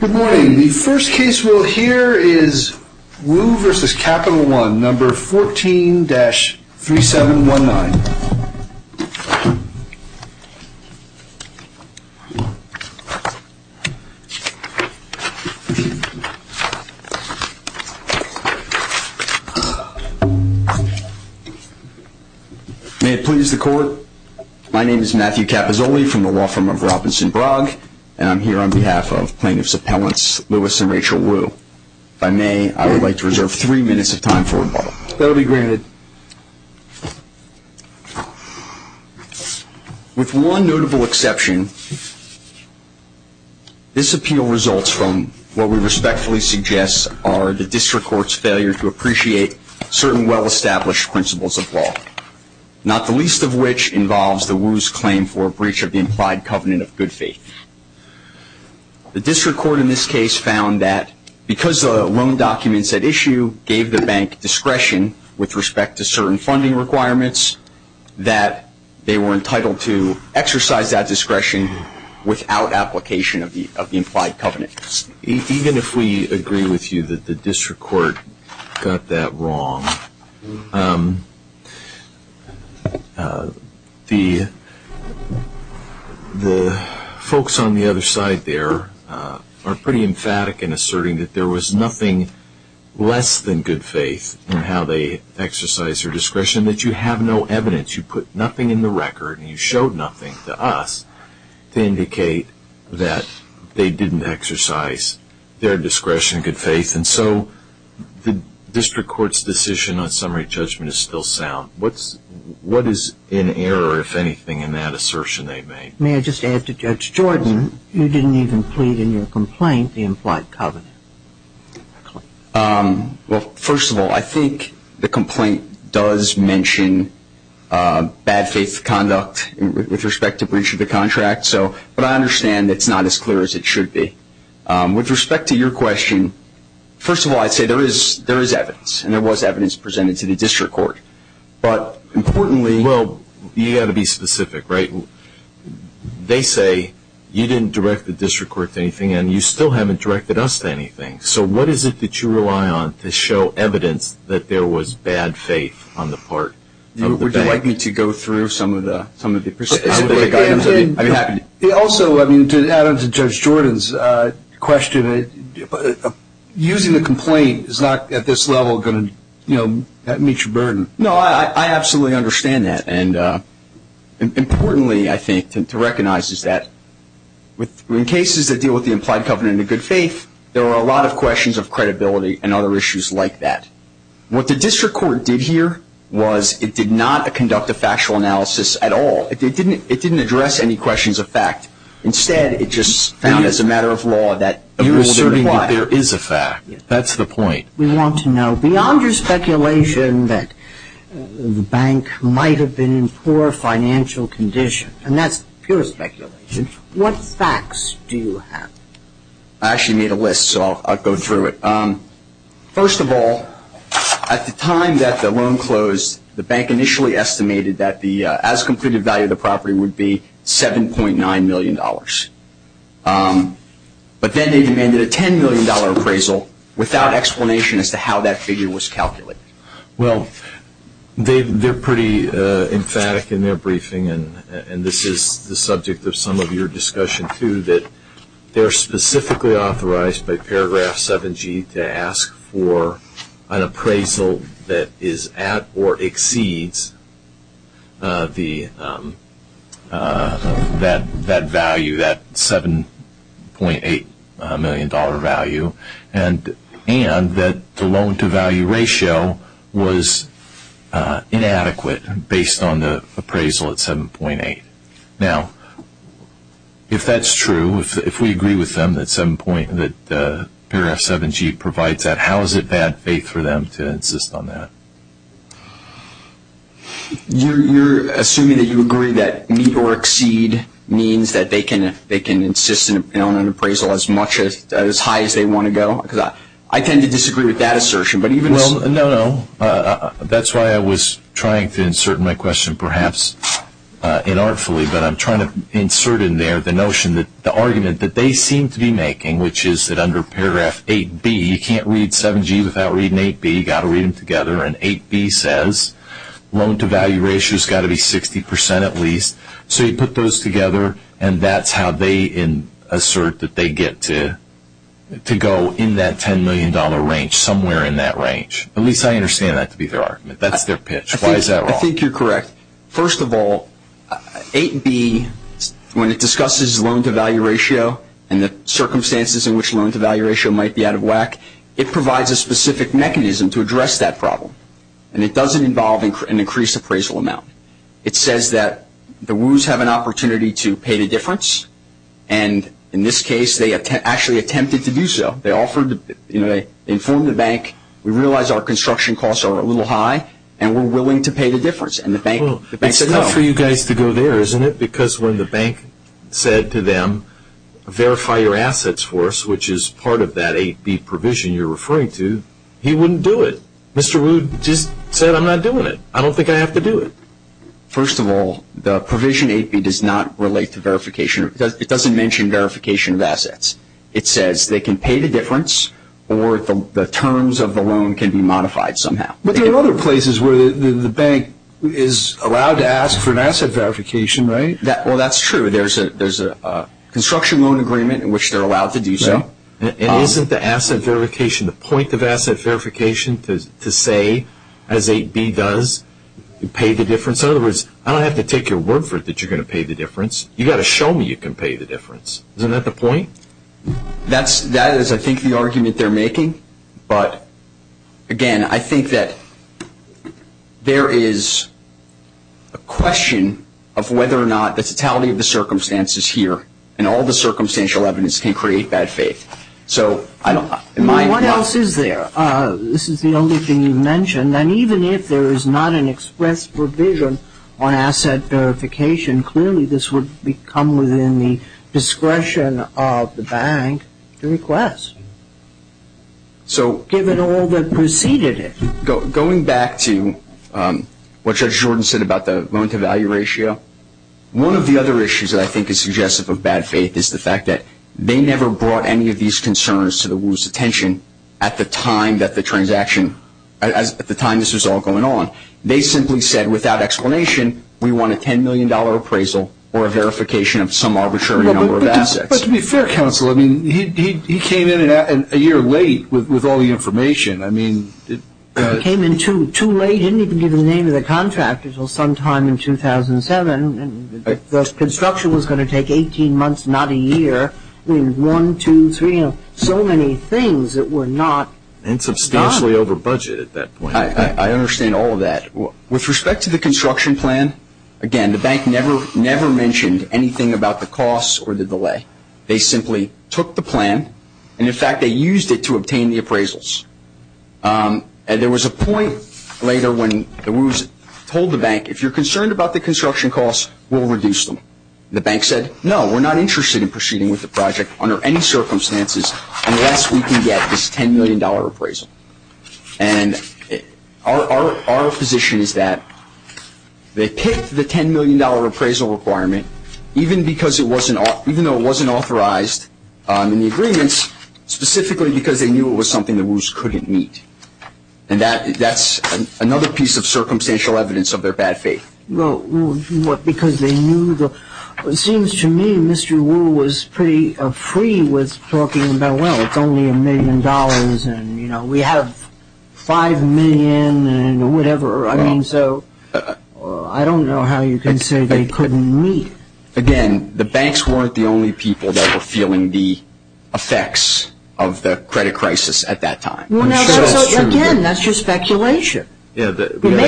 Good morning. The first case we'll hear is Wu v. Capital One, No. 14-3719. May it please the court. My name is Matthew Cappazzoli from the law firm of Robinson-Brogg, and I'm here on behalf of plaintiffs' appellants Lewis and Rachel Wu. If I may, I would like to reserve three minutes of time for rebuttal. That will be granted. With one notable exception, this appeal results from what we respectfully suggest are the district court's failure to appreciate certain well-established principles of law, not the least of which involves the Wu's claim for a breach of the implied covenant of good faith. The district court in this case found that because the loan documents at issue gave the bank discretion with respect to certain funding requirements, that they were entitled to exercise that discretion without application of the implied covenant. Even if we agree with you that the district court got that wrong, the folks on the other side there are pretty emphatic in asserting that there was nothing less than good faith in how they exercised their discretion, you put nothing in the record and you showed nothing to us to indicate that they didn't exercise their discretion in good faith, and so the district court's decision on summary judgment is still sound. What is in error, if anything, in that assertion they made? May I just add to Judge Jordan, you didn't even plead in your complaint the implied covenant. Well, first of all, I think the complaint does mention bad faith conduct with respect to breach of the contract, but I understand it's not as clear as it should be. With respect to your question, first of all, I'd say there is evidence, and there was evidence presented to the district court. But importantly... Well, you've got to be specific, right? They say you didn't direct the district court to anything and you still haven't directed us to anything. So what is it that you rely on to show evidence that there was bad faith on the part of the bank? Would you like me to go through some of the specific items? Also, to add on to Judge Jordan's question, using the complaint is not at this level going to meet your burden. No, I absolutely understand that. And importantly, I think, to recognize is that in cases that deal with the implied covenant of good faith, there are a lot of questions of credibility and other issues like that. What the district court did here was it did not conduct a factual analysis at all. It didn't address any questions of fact. Instead, it just found as a matter of law that a rule didn't apply. You're asserting that there is a fact. That's the point. We want to know, beyond your speculation that the bank might have been in poor financial condition, and that's pure speculation, what facts do you have? I actually made a list, so I'll go through it. First of all, at the time that the loan closed, the bank initially estimated that the as-completed value of the property would be $7.9 million. But then they demanded a $10 million appraisal without explanation as to how that figure was calculated. Well, they're pretty emphatic in their briefing, and this is the subject of some of your discussion too, they're specifically authorized by paragraph 7G to ask for an appraisal that is at or exceeds that value, that $7.8 million value, and that the loan-to-value ratio was inadequate based on the appraisal at 7.8. Now, if that's true, if we agree with them that paragraph 7G provides that, how is it bad faith for them to insist on that? You're assuming that you agree that meet or exceed means that they can insist on an appraisal as high as they want to go? Because I tend to disagree with that assertion. Well, no, no. That's why I was trying to insert my question perhaps inartfully, but I'm trying to insert in there the notion that the argument that they seem to be making, which is that under paragraph 8B, you can't read 7G without reading 8B. You've got to read them together, and 8B says loan-to-value ratio has got to be 60% at least. So you put those together, and that's how they assert that they get to go in that $10 million range, somewhere in that range. At least I understand that to be their argument. That's their pitch. Why is that wrong? I think you're correct. First of all, 8B, when it discusses loan-to-value ratio and the circumstances in which loan-to-value ratio might be out of whack, it provides a specific mechanism to address that problem, and it doesn't involve an increased appraisal amount. It says that the WUs have an opportunity to pay the difference, and in this case, they actually attempted to do so. They informed the bank, we realize our construction costs are a little high, and we're willing to pay the difference. It's enough for you guys to go there, isn't it? Because when the bank said to them, verify your assets for us, which is part of that 8B provision you're referring to, he wouldn't do it. Mr. Rude just said, I'm not doing it. I don't think I have to do it. First of all, the provision 8B does not relate to verification. It doesn't mention verification of assets. It says they can pay the difference, or the terms of the loan can be modified somehow. But there are other places where the bank is allowed to ask for an asset verification, right? Well, that's true. There's a construction loan agreement in which they're allowed to do so. And isn't the asset verification, the point of asset verification to say, as 8B does, pay the difference? In other words, I don't have to take your word for it that you're going to pay the difference. You've got to show me you can pay the difference. Isn't that the point? That is, I think, the argument they're making. But, again, I think that there is a question of whether or not the totality of the circumstances here and all the circumstantial evidence can create bad faith. What else is there? This is the only thing you mentioned. And even if there is not an express provision on asset verification, clearly this would come within the discretion of the bank to request, given all that preceded it. Going back to what Judge Jordan said about the loan-to-value ratio, one of the other issues that I think is suggestive of bad faith is the fact that they never brought any of these concerns to the Wu's attention at the time this was all going on. They simply said, without explanation, we want a $10 million appraisal or a verification of some arbitrary number of assets. But to be fair, counsel, he came in a year late with all the information. He came in too late. He didn't even give the name of the contractor until sometime in 2007. The construction was going to take 18 months, not a year. One, two, three, so many things that were not... And substantially over budget at that point. I understand all of that. With respect to the construction plan, again, the bank never mentioned anything about the costs or the delay. They simply took the plan and, in fact, they used it to obtain the appraisals. And there was a point later when the Wu's told the bank, if you're concerned about the construction costs, we'll reduce them. The bank said, no, we're not interested in proceeding with the project under any circumstances unless we can get this $10 million appraisal. And our position is that they picked the $10 million appraisal requirement even though it wasn't authorized in the agreements, specifically because they knew it was something the Wu's couldn't meet. And that's another piece of circumstantial evidence of their bad faith. Well, because they knew the... It seems to me Mr. Wu was pretty free with talking about, well, it's only a million dollars and, you know, we have five million and whatever. I mean, so I don't know how you can say they couldn't meet. Again, the banks weren't the only people that were feeling the effects of the credit crisis at that time. Again, that's just speculation. We may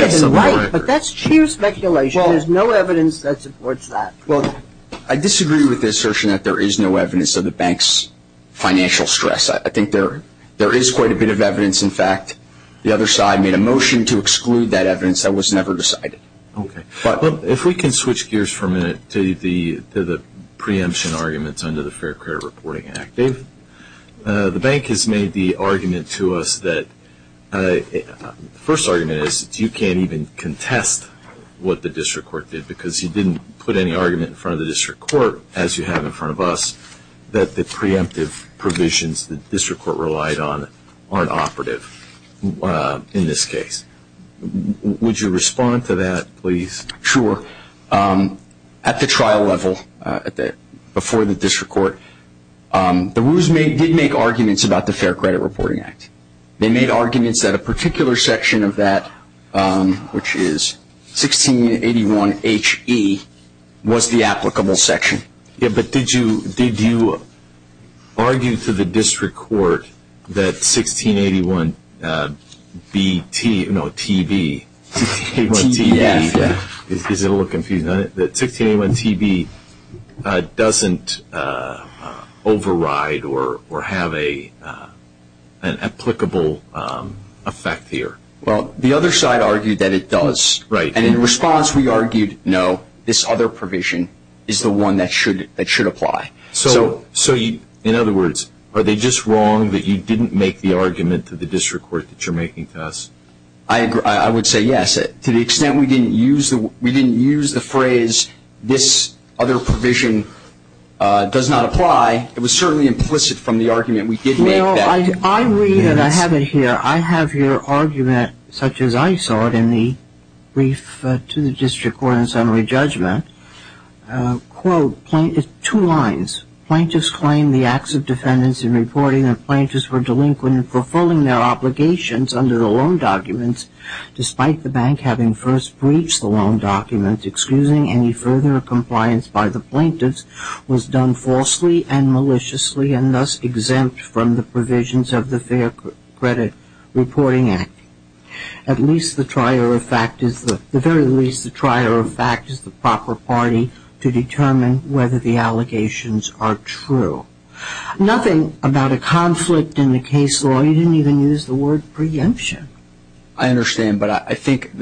have been right, but that's sheer speculation. There's no evidence that supports that. I disagree with the assertion that there is no evidence of the bank's financial stress. I think there is quite a bit of evidence, in fact. The other side made a motion to exclude that evidence. That was never decided. Okay. If we can switch gears for a minute to the preemption arguments under the Fair Credit Reporting Act. Dave? The bank has made the argument to us that... The first argument is that you can't even contest what the district court did because you didn't put any argument in front of the district court, as you have in front of us, that the preemptive provisions the district court relied on aren't operative in this case. Would you respond to that, please? Sure. At the trial level, before the district court, the Wu's did make arguments about the Fair Credit Reporting Act. They made arguments that a particular section of that, which is 1681 H.E., was the applicable section. Yeah, but did you argue to the district court that 1681 B.T. No, T.B. 1681 T.B. Yeah. Is a little confusing. 1681 T.B. doesn't override or have an applicable effect here. Well, the other side argued that it does. Right. And in response, we argued, no, this other provision is the one that should apply. So, in other words, are they just wrong that you didn't make the argument to the district court that you're making to us? I would say yes. To the extent we didn't use the phrase, this other provision does not apply, it was certainly implicit from the argument we did make that... Well, I read, and I have it here, I have your argument, such as I saw it in the brief to the district court in summary judgment, quote, two lines, Plaintiffs claim the acts of defendants in reporting that plaintiffs were delinquent in fulfilling their obligations under the loan documents, despite the bank having first breached the loan documents, excusing any further compliance by the plaintiffs, was done falsely and maliciously and thus exempt from the provisions of the Fair Credit Reporting Act. At least the trier of fact is the proper party to determine whether the allegations are true. Nothing about a conflict in the case law, you didn't even use the word preemption. I understand, but I think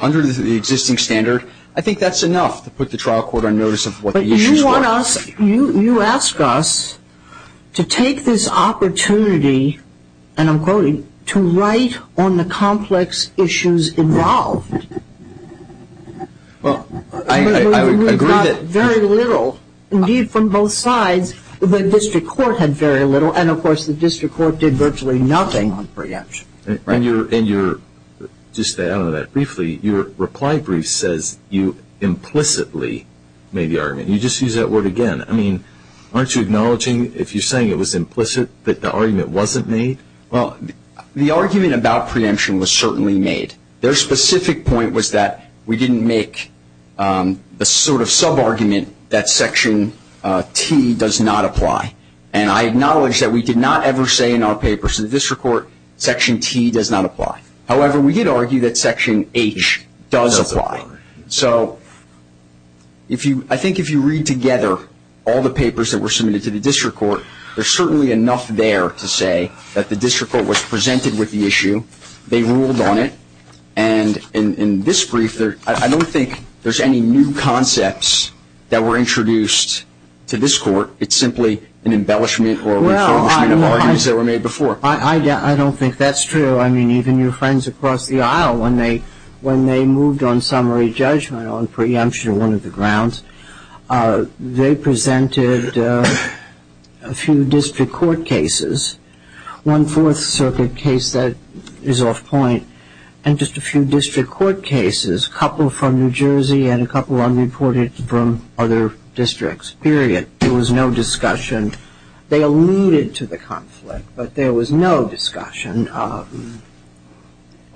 under the existing standard, I think that's enough to put the trial court on notice of what the issues were. But you want us, you ask us to take this opportunity, and I'm quoting, to write on the complex issues involved. Well, I agree that... Very little, indeed from both sides, the district court had very little, Just to add on that briefly, your reply brief says you implicitly made the argument. You just used that word again. I mean, aren't you acknowledging if you're saying it was implicit that the argument wasn't made? Well, the argument about preemption was certainly made. Their specific point was that we didn't make the sort of sub-argument that Section T does not apply. And I acknowledge that we did not ever say in our papers to the district court, Section T does not apply. However, we did argue that Section H does apply. So I think if you read together all the papers that were submitted to the district court, there's certainly enough there to say that the district court was presented with the issue, they ruled on it, and in this brief, I don't think there's any new concepts that were introduced to this court. It's simply an embellishment or a refurbishment of arguments that were made before. I don't think that's true. I mean, even your friends across the aisle, when they moved on summary judgment on preemption, one of the grounds, they presented a few district court cases, one Fourth Circuit case that is off point, and just a few district court cases, a couple from New Jersey and a couple unreported from other districts, period. There was no discussion. They alluded to the conflict, but there was no discussion. And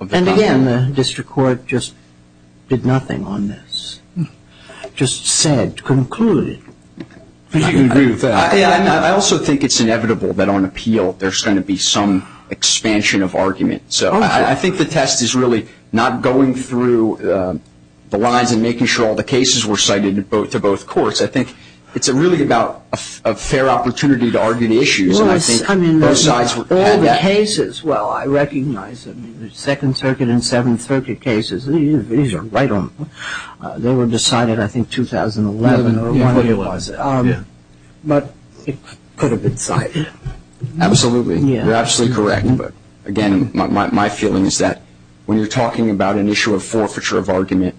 again, the district court just did nothing on this, just said, concluded. I think you can agree with that. I also think it's inevitable that on appeal there's going to be some expansion of argument. So I think the test is really not going through the lines and making sure all the cases were cited to both courts. I think it's really about a fair opportunity to argue the issues. Well, I mean, all the cases, well, I recognize them. The Second Circuit and Seventh Circuit cases, these are right on. They were decided, I think, 2011 or whenever it was. But it could have been cited. Absolutely. You're absolutely correct. But again, my feeling is that when you're talking about an issue of forfeiture of argument,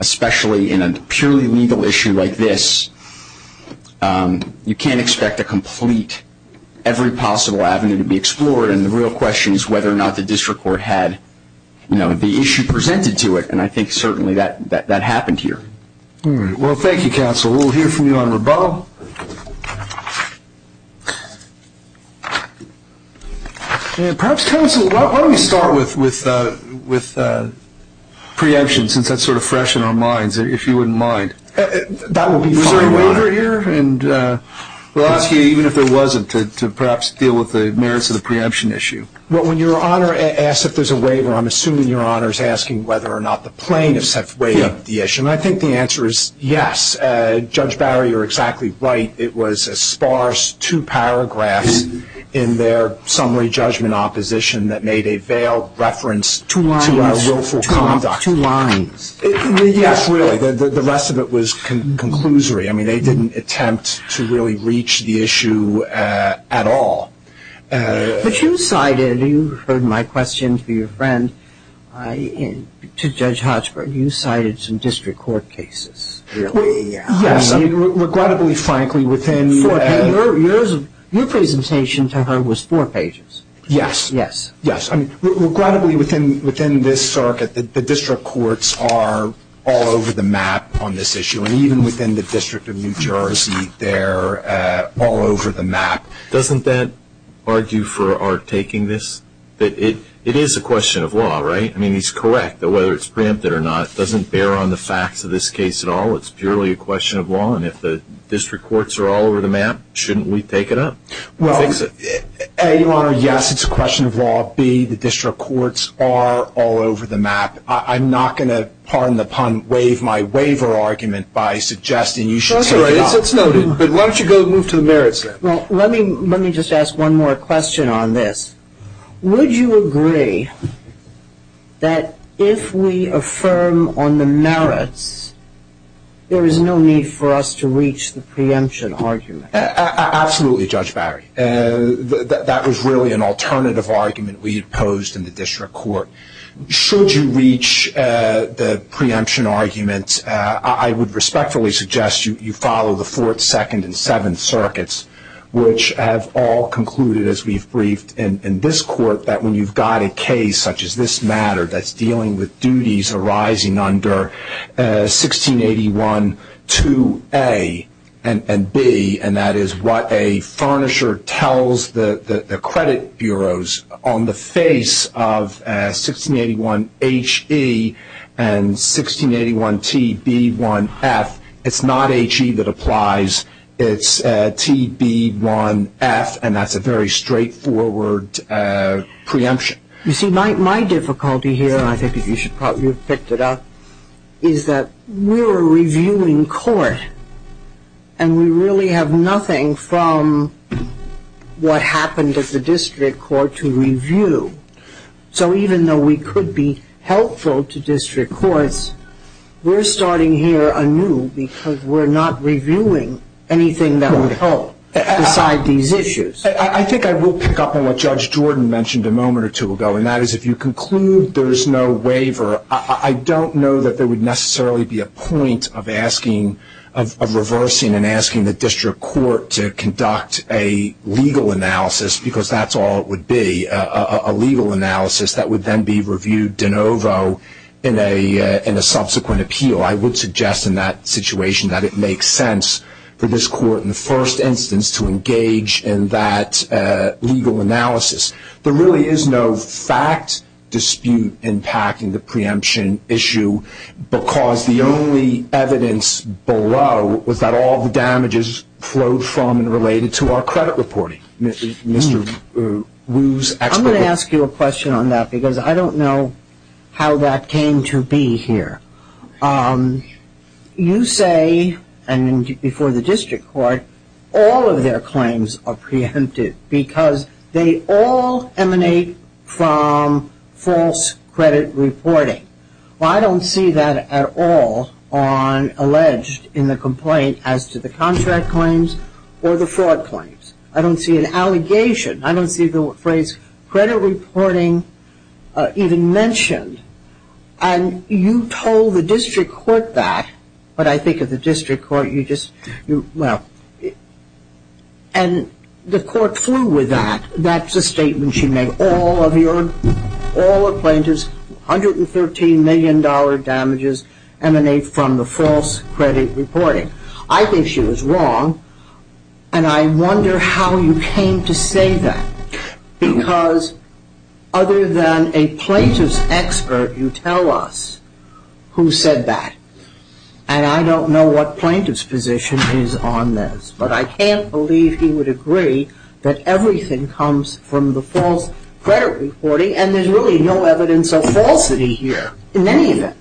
especially in a purely legal issue like this, you can't expect a complete, every possible avenue to be explored. And the real question is whether or not the district court had the issue presented to it. And I think certainly that happened here. All right. Well, thank you, counsel. We'll hear from you on rebuttal. And perhaps, counsel, why don't we start with preemption, since that's sort of fresh in our minds, if you wouldn't mind. That would be fine by me. Is there a waiver here? And we'll ask you, even if there wasn't, to perhaps deal with the merits of the preemption issue. Well, when Your Honor asks if there's a waiver, I'm assuming Your Honor is asking whether or not the plaintiffs have waived the issue. And I think the answer is yes. Judge Barry, you're exactly right. It was a sparse two paragraphs in their summary judgment opposition that made a veiled reference to our willful conduct. Two lines. Yes, really. The rest of it was conclusory. I mean, they didn't attempt to really reach the issue at all. But you cited, you heard my question to your friend, to Judge Hodgeberg, you cited some district court cases, really. Yes. I mean, regrettably, frankly, within four pages. Your presentation to her was four pages. Yes. Yes. Yes. I mean, regrettably, within this circuit, the district courts are all over the map on this issue. And even within the District of New Jersey, they're all over the map. Doesn't that argue for our taking this? It is a question of law, right? I mean, he's correct that whether it's preempted or not doesn't bear on the facts of this case at all. It's purely a question of law. And if the district courts are all over the map, shouldn't we take it up and fix it? Well, A, Your Honor, yes, it's a question of law. B, the district courts are all over the map. I'm not going to pardon the pun, waive my waiver argument by suggesting you should take it up. That's all right. It's noted. But why don't you go move to the merits now? Well, let me just ask one more question on this. Would you agree that if we affirm on the merits, there is no need for us to reach the preemption argument? Absolutely, Judge Barry. That was really an alternative argument we had posed in the district court. Should you reach the preemption argument, I would respectfully suggest you follow the Fourth, Second, and Seventh Circuits, which have all concluded, as we've briefed in this court, that when you've got a case such as this matter that's dealing with duties arising under 1681-2A and B, and that is what a furnisher tells the credit bureaus on the face of 1681-HE and 1681-TB1-F, it's not HE that applies. It's TB1-F, and that's a very straightforward preemption. You see, my difficulty here, and I think you should probably have picked it up, is that we're a reviewing court, and we really have nothing from what happened at the district court to review. So even though we could be helpful to district courts, we're starting here anew because we're not reviewing anything that would help decide these issues. I think I will pick up on what Judge Jordan mentioned a moment or two ago, and that is if you conclude there's no waiver, I don't know that there would necessarily be a point of reversing and asking the district court to conduct a legal analysis, because that's all it would be, a legal analysis that would then be reviewed de novo in a subsequent appeal. I would suggest in that situation that it makes sense for this court, in the first instance, to engage in that legal analysis. There really is no fact dispute impacting the preemption issue, because the only evidence below was that all the damages flowed from and related to our credit reporting. I'm going to ask you a question on that, because I don't know how that came to be here. You say, and before the district court, all of their claims are preempted, because they all emanate from false credit reporting. Well, I don't see that at all on alleged in the complaint as to the contract claims or the fraud claims. I don't see an allegation. I don't see the phrase credit reporting even mentioned, and you told the district court that, but I think of the district court, you just, well, and the court flew with that. That's a statement she made. All plaintiffs, $113 million damages emanate from the false credit reporting. I think she was wrong, and I wonder how you came to say that, because other than a plaintiff's expert, you tell us who said that, and I don't know what plaintiff's position is on this, but I can't believe he would agree that everything comes from the false credit reporting, and there's really no evidence of falsity here in any event.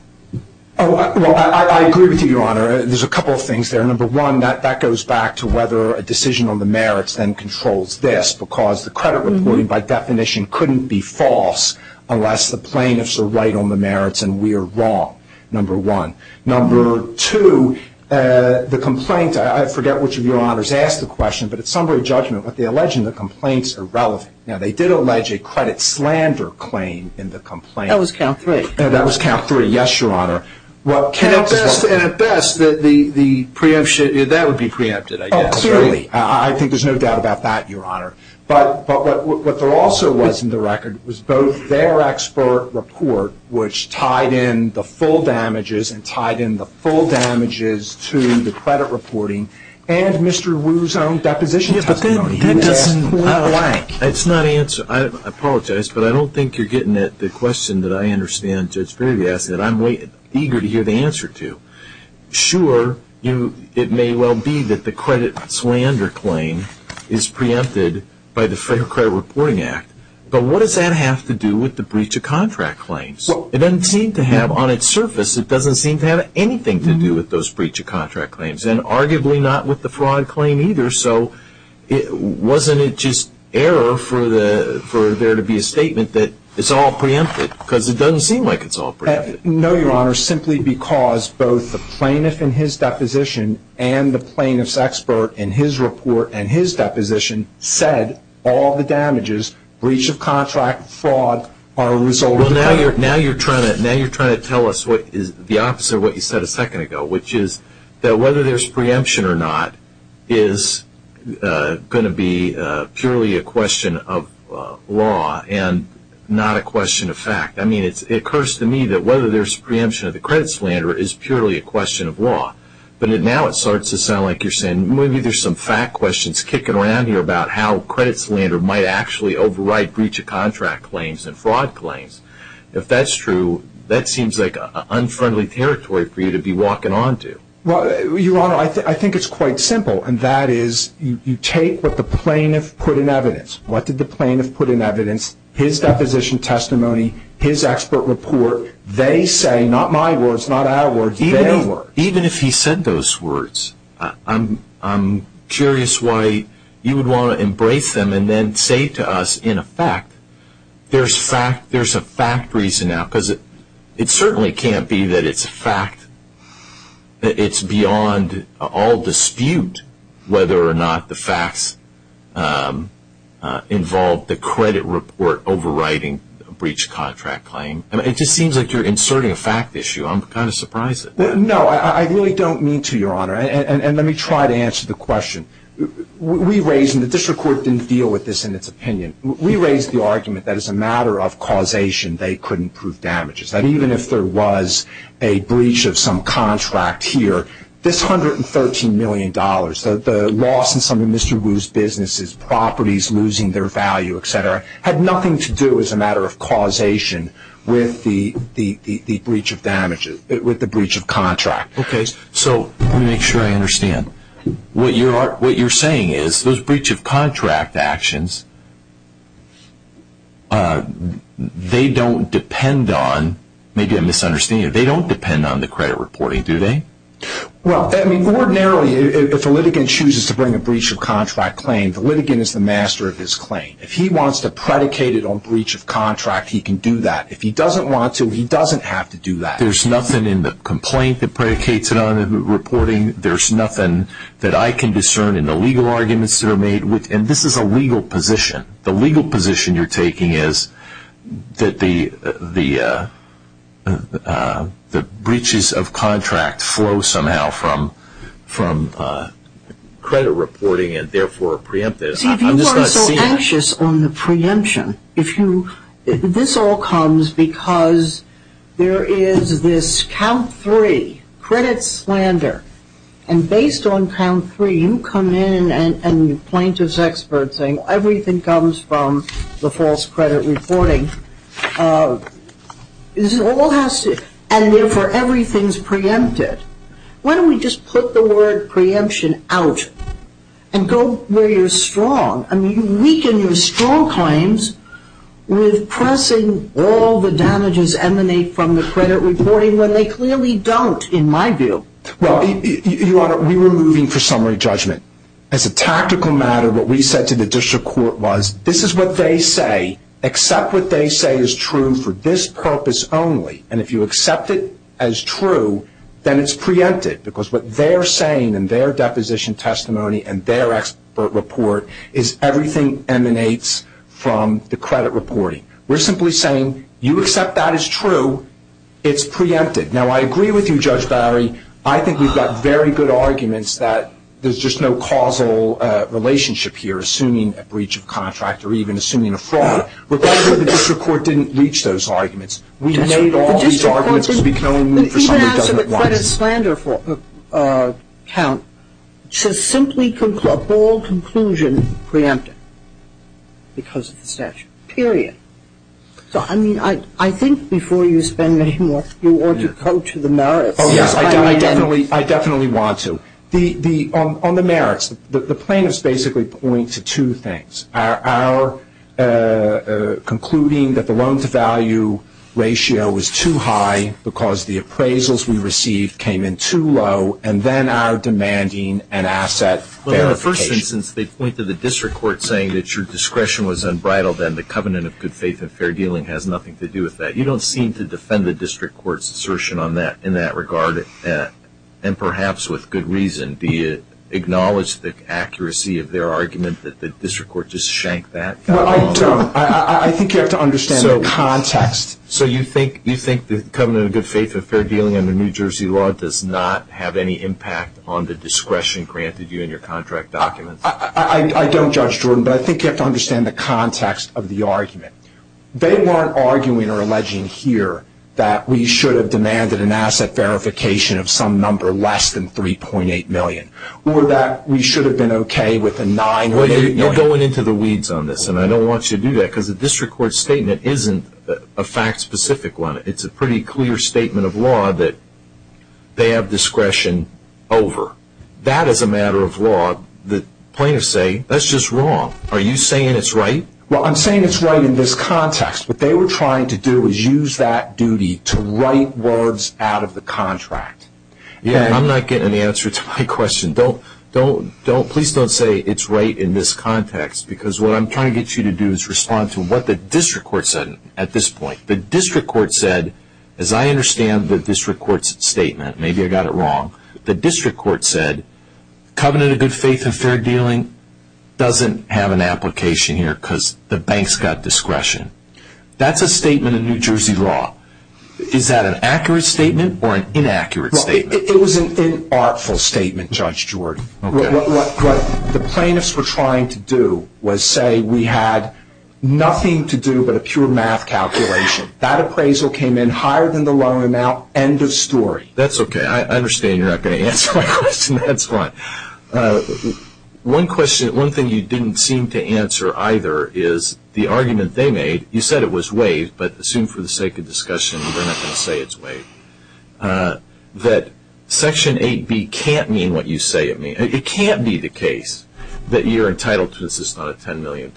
Well, I agree with you, Your Honor. There's a couple of things there. Number one, that goes back to whether a decision on the merits then controls this, because the credit reporting by definition couldn't be false unless the plaintiffs are right on the merits, and we are wrong, number one. Number two, the complaint, I forget which of your honors asked the question, but at summary judgment, what they allege in the complaints are relevant. Now, they did allege a credit slander claim in the complaint. That was count three. That was count three, yes, Your Honor. And at best, that would be preempted, I guess, right? Oh, clearly. I think there's no doubt about that, Your Honor. But what there also was in the record was both their expert report, which tied in the full damages and tied in the full damages to the credit reporting and Mr. Wu's own deposition testimony. Yes, but that doesn't point blank. It's not answered. I apologize, but I don't think you're getting it. The question that I understand, Judge Berry, is that I'm eager to hear the answer to. Sure, it may well be that the credit slander claim is preempted by the Fair Credit Reporting Act, but what does that have to do with the breach of contract claims? It doesn't seem to have, on its surface, it doesn't seem to have anything to do with those breach of contract claims and arguably not with the fraud claim either. So wasn't it just error for there to be a statement that it's all preempted because it doesn't seem like it's all preempted? No, Your Honor, simply because both the plaintiff in his deposition and the plaintiff's expert in his report said all the damages, breach of contract, fraud, are a result of error. Well, now you're trying to tell us the opposite of what you said a second ago, which is that whether there's preemption or not is going to be purely a question of law and not a question of fact. I mean, it occurs to me that whether there's preemption of the credit slander is purely a question of law. But now it starts to sound like you're saying maybe there's some fact questions kicking around here about how credit slander might actually override breach of contract claims and fraud claims. If that's true, that seems like unfriendly territory for you to be walking on to. Well, Your Honor, I think it's quite simple, and that is you take what the plaintiff put in evidence. What did the plaintiff put in evidence? His deposition testimony, his expert report. They say, not my words, not our words, their words. Even if he said those words, I'm curious why you would want to embrace them and then say to us, in effect, there's a fact reason now. Because it certainly can't be that it's a fact, that it's beyond all dispute whether or not the facts involve the credit report overriding a breach of contract claim. It just seems like you're inserting a fact issue. I'm kind of surprised. No, I really don't mean to, Your Honor. And let me try to answer the question. We raised, and the district court didn't deal with this in its opinion, we raised the argument that as a matter of causation they couldn't prove damages, that even if there was a breach of some contract here, this $113 million, the loss in some of Mr. Wu's businesses, properties losing their value, et cetera, had nothing to do as a matter of causation with the breach of contract. Okay, so let me make sure I understand. What you're saying is those breach of contract actions, they don't depend on, maybe I'm misunderstanding you, they don't depend on the credit reporting, do they? Well, ordinarily if a litigant chooses to bring a breach of contract claim, the litigant is the master of his claim. If he wants to predicate it on breach of contract, he can do that. If he doesn't want to, he doesn't have to do that. There's nothing in the complaint that predicates it on reporting. There's nothing that I can discern in the legal arguments that are made. And this is a legal position. The legal position you're taking is that the breaches of contract flow somehow from credit reporting and therefore preemptive. See, if you are so anxious on the preemption, if you – this all comes because there is this count three credit slander, and based on count three you come in and plaintiff's expert saying everything comes from the false credit reporting. This all has to – and therefore everything's preempted. Why don't we just put the word preemption out and go where you're strong? I mean, you weaken your strong claims with pressing all the damages emanate from the credit reporting when they clearly don't in my view. Well, Your Honor, we were moving for summary judgment. As a tactical matter, what we said to the district court was this is what they say. Accept what they say is true for this purpose only. And if you accept it as true, then it's preempted because what they're saying in their deposition testimony and their expert report is everything emanates from the credit reporting. We're simply saying you accept that as true, it's preempted. Now, I agree with you, Judge Barry. I think we've got very good arguments that there's just no causal relationship here assuming a breach of contract or even assuming a fraud. Regardless of whether the district court didn't reach those arguments, we know that all these arguments become summary judgment lines. The district court didn't even answer the credit slander count. It says simply a bold conclusion preempted because of the statute, period. So, I mean, I think before you spend any more, you ought to go to the merits. Oh, yes, I definitely want to. On the merits, the plaintiffs basically point to two things. Our concluding that the loan-to-value ratio was too high because the appraisals we received came in too low, and then our demanding an asset verification. Well, in the first instance, they point to the district court saying that your discretion was unbridled and the covenant of good faith and fair dealing has nothing to do with that. You don't seem to defend the district court's assertion in that regard, and perhaps with good reason. Do you acknowledge the accuracy of their argument that the district court just shank that? Well, I don't. I think you have to understand the context. So you think the covenant of good faith and fair dealing under New Jersey law does not have any impact on the discretion granted you in your contract documents? I don't, Judge Jordan, but I think you have to understand the context of the argument. They weren't arguing or alleging here that we should have demanded an asset verification of some number less than $3.8 million or that we should have been okay with the $9 million. You're going into the weeds on this, and I don't want you to do that because the district court's statement isn't a fact-specific one. It's a pretty clear statement of law that they have discretion over. That is a matter of law. The plaintiffs say that's just wrong. Are you saying it's right? Well, I'm saying it's right in this context. What they were trying to do was use that duty to write words out of the contract. I'm not getting an answer to my question. Please don't say it's right in this context because what I'm trying to get you to do is respond to what the district court said at this point. The district court said, as I understand the district court's statement, maybe I got it wrong, the district court said, Covenant of Good Faith and Fair Dealing doesn't have an application here because the bank's got discretion. That's a statement in New Jersey law. Is that an accurate statement or an inaccurate statement? It was an inartful statement, Judge Jordan. What the plaintiffs were trying to do was say we had nothing to do but a pure math calculation. That appraisal came in higher than the loan amount, end of story. That's okay. I understand you're not going to answer my question. That's fine. One thing you didn't seem to answer either is the argument they made. You said it was waived, but assume for the sake of discussion you're not going to say it's waived, that Section 8B can't mean what you say it means. It can't be the case that you're entitled to this $10 million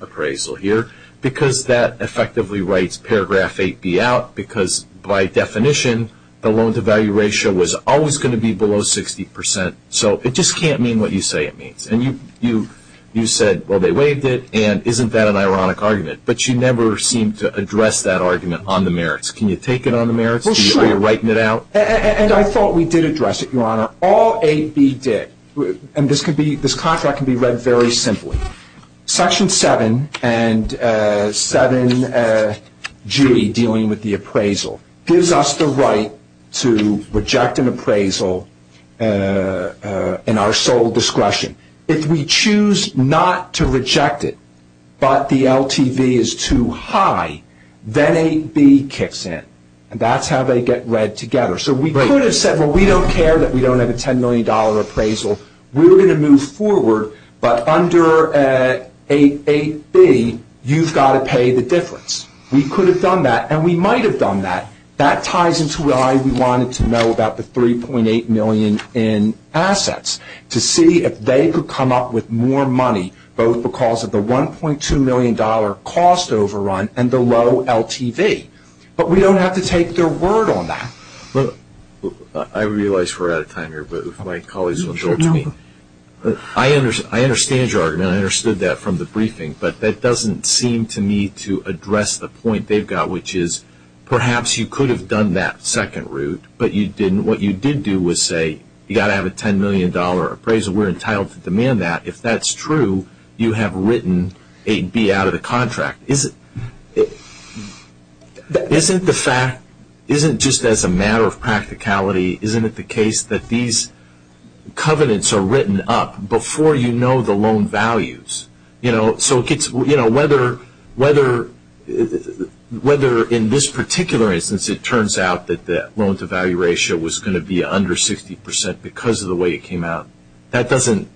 appraisal here because that effectively writes Paragraph 8B out because by definition the loan-to-value ratio was always going to be below 60%. So it just can't mean what you say it means. And you said, well, they waived it, and isn't that an ironic argument? But you never seemed to address that argument on the merits. Can you take it on the merits? Well, sure. Are you writing it out? And I thought we did address it, Your Honor. All 8B did, and this contract can be read very simply. Section 7 and 7G, dealing with the appraisal, gives us the right to reject an appraisal in our sole discretion. If we choose not to reject it but the LTV is too high, then 8B kicks in, and that's how they get read together. So we could have said, well, we don't care that we don't have a $10 million appraisal. We're going to move forward, but under 8B, you've got to pay the difference. We could have done that, and we might have done that. That ties into why we wanted to know about the $3.8 million in assets, to see if they could come up with more money both because of the $1.2 million cost overrun and the low LTV. But we don't have to take their word on that. I realize we're out of time here, but if my colleagues want to talk to me. I understand your argument. I understood that from the briefing, but that doesn't seem to me to address the point they've got, which is perhaps you could have done that second route, but you didn't. What you did do was say, you've got to have a $10 million appraisal. We're entitled to demand that. If that's true, you have written 8B out of the contract. Isn't the fact, isn't just as a matter of practicality, isn't it the case that these covenants are written up before you know the loan values? So whether in this particular instance it turns out that the loan-to-value ratio was going to be under 60% because of the way it came out, that doesn't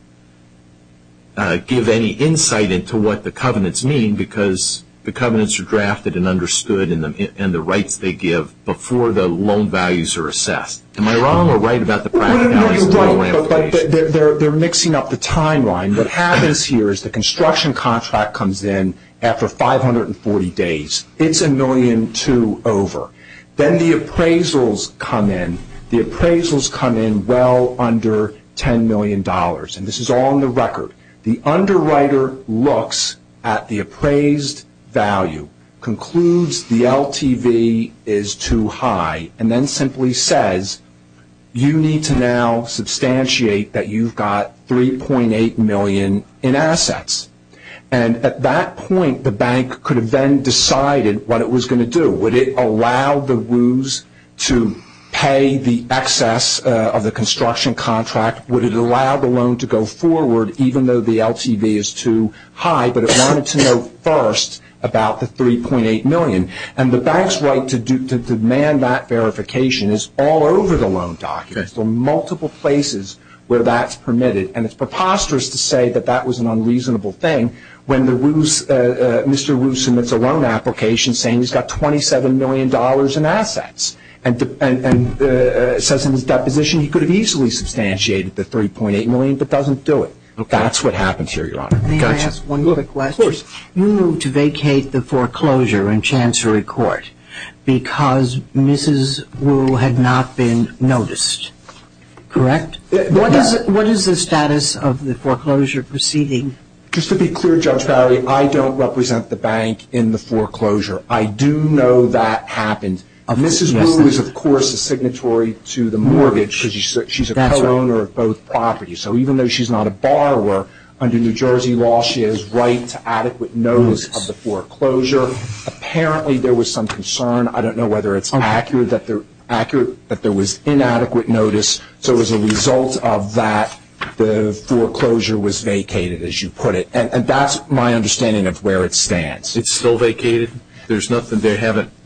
give any insight into what the covenants mean because the covenants are drafted and understood and the rights they give before the loan values are assessed. Am I wrong or right about the practicalities of the program? You're right, but they're mixing up the timeline. What happens here is the construction contract comes in after 540 days. It's $1.2 million over. Then the appraisals come in. The appraisals come in well under $10 million, and this is all on the record. The underwriter looks at the appraised value, concludes the LTV is too high, and then simply says, you need to now substantiate that you've got $3.8 million in assets. And at that point, the bank could have then decided what it was going to do. Would it allow the Wu's to pay the excess of the construction contract? Would it allow the loan to go forward even though the LTV is too high, but it wanted to know first about the $3.8 million? And the bank's right to demand that verification is all over the loan documents, so multiple places where that's permitted. And it's preposterous to say that that was an unreasonable thing when Mr. Wu submits a loan application saying he's got $27 million in assets and says in his deposition he could have easily substantiated the $3.8 million but doesn't do it. That's what happens here, Your Honor. May I ask one quick question? Of course. You moved to vacate the foreclosure in Chancery Court because Mrs. Wu had not been noticed, correct? What is the status of the foreclosure proceeding? Just to be clear, Judge Barry, I don't represent the bank in the foreclosure. I do know that happened. Mrs. Wu is, of course, a signatory to the mortgage because she's a co-owner of both properties. So even though she's not a borrower, under New Jersey law she has right to adequate notice of the foreclosure. Apparently there was some concern. I don't know whether it's accurate that there was inadequate notice. So as a result of that, the foreclosure was vacated, as you put it. And that's my understanding of where it stands. It's still vacated? There's nothing there?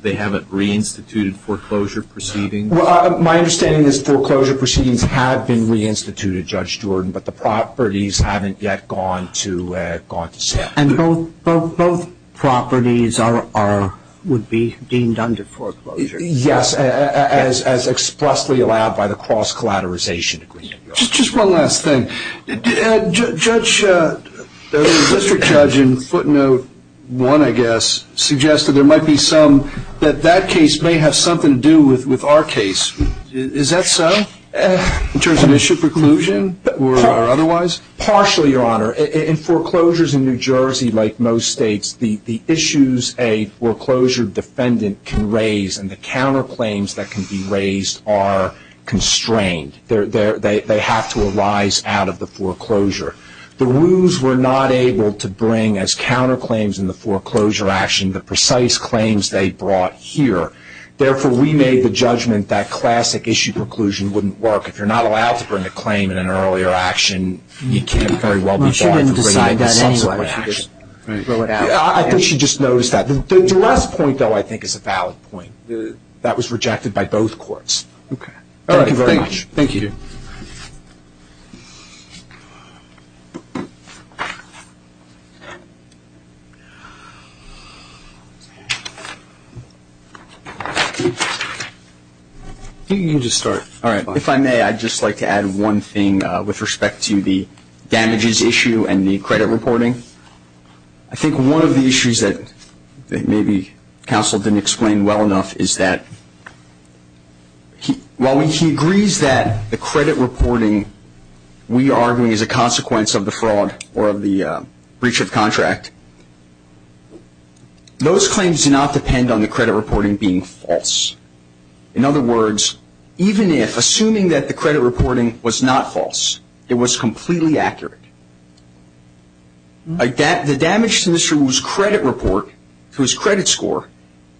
They haven't reinstituted foreclosure proceedings? My understanding is foreclosure proceedings have been reinstituted, Judge Jordan, but the properties haven't yet gone to sale. And both properties would be deemed under foreclosure? Yes, as expressly allowed by the cross-collateralization agreement. Just one last thing. Judge, the district judge in footnote one, I guess, suggested there might be some that that case may have something to do with our case. Is that so in terms of issue preclusion or otherwise? Partially, Your Honor. In foreclosures in New Jersey, like most states, the issues a foreclosure defendant can raise and the counterclaims that can be raised are constrained. They have to arise out of the foreclosure. The Wu's were not able to bring, as counterclaims in the foreclosure action, the precise claims they brought here. Therefore, we made the judgment that classic issue preclusion wouldn't work. If you're not allowed to bring a claim in an earlier action, you can't very well be bought into raising the subsequent action. I think she just noticed that. The duress point, though, I think is a valid point. That was rejected by both courts. Okay. Thank you very much. Thank you. You can just start. All right. If I may, I'd just like to add one thing with respect to the damages issue and the credit reporting. I think one of the issues that maybe counsel didn't explain well enough is that while he agrees that the credit reporting we argue is a consequence of the fraud or of the breach of contract, those claims do not depend on the credit reporting being false. In other words, even if, assuming that the credit reporting was not false, it was completely accurate, the damage to Mr. Wu's credit report, to his credit score,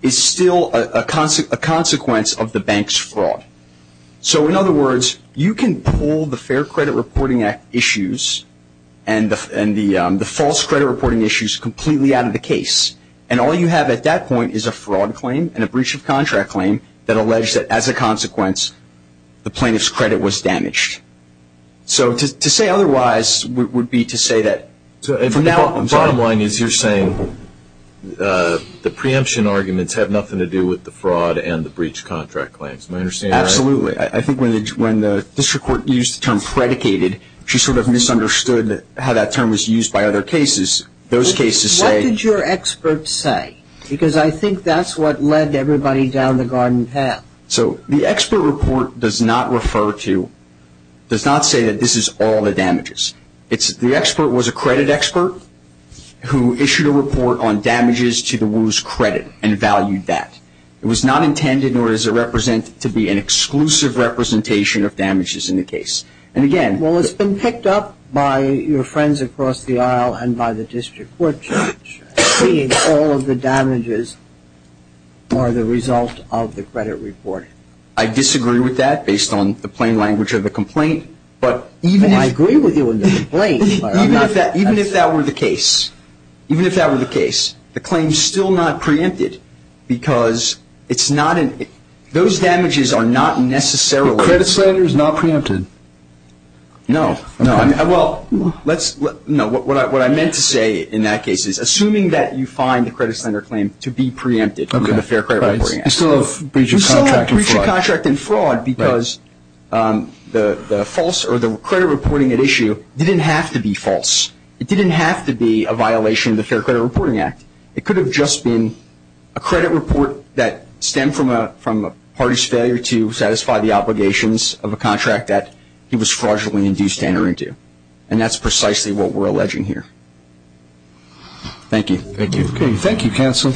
is still a consequence of the bank's fraud. So, in other words, you can pull the Fair Credit Reporting Act issues and the false credit reporting issues completely out of the case, and all you have at that point is a fraud claim and a breach of contract claim that allege that as a consequence the plaintiff's credit was damaged. So, to say otherwise would be to say that. The bottom line is you're saying the preemption arguments have nothing to do with the fraud and the breach of contract claims. Am I understanding that right? Absolutely. I think when the district court used the term predicated, she sort of misunderstood how that term was used by other cases. Those cases say. What did your expert say? Because I think that's what led everybody down the garden path. So, the expert report does not refer to, does not say that this is all the damages. The expert was a credit expert who issued a report on damages to the Wu's credit and valued that. It was not intended nor is it represented to be an exclusive representation of damages in the case. And, again. Well, it's been picked up by your friends across the aisle and by the district court, saying all of the damages are the result of the credit report. I disagree with that based on the plain language of the complaint. I agree with you on the complaint. Even if that were the case, even if that were the case, the claim is still not preempted because those damages are not necessarily. The credit slander is not preempted. No. Well, what I meant to say in that case is, assuming that you find the credit slander claim to be preempted under the Fair Credit Reporting Act. You still have breach of contract and fraud. You still have breach of contract and fraud because the credit reporting at issue didn't have to be false. It didn't have to be a violation of the Fair Credit Reporting Act. It could have just been a credit report that stemmed from a party's failure to satisfy the obligations of a contract that he was fraudulently induced to enter into. And that's precisely what we're alleging here. Thank you. Thank you, counsel.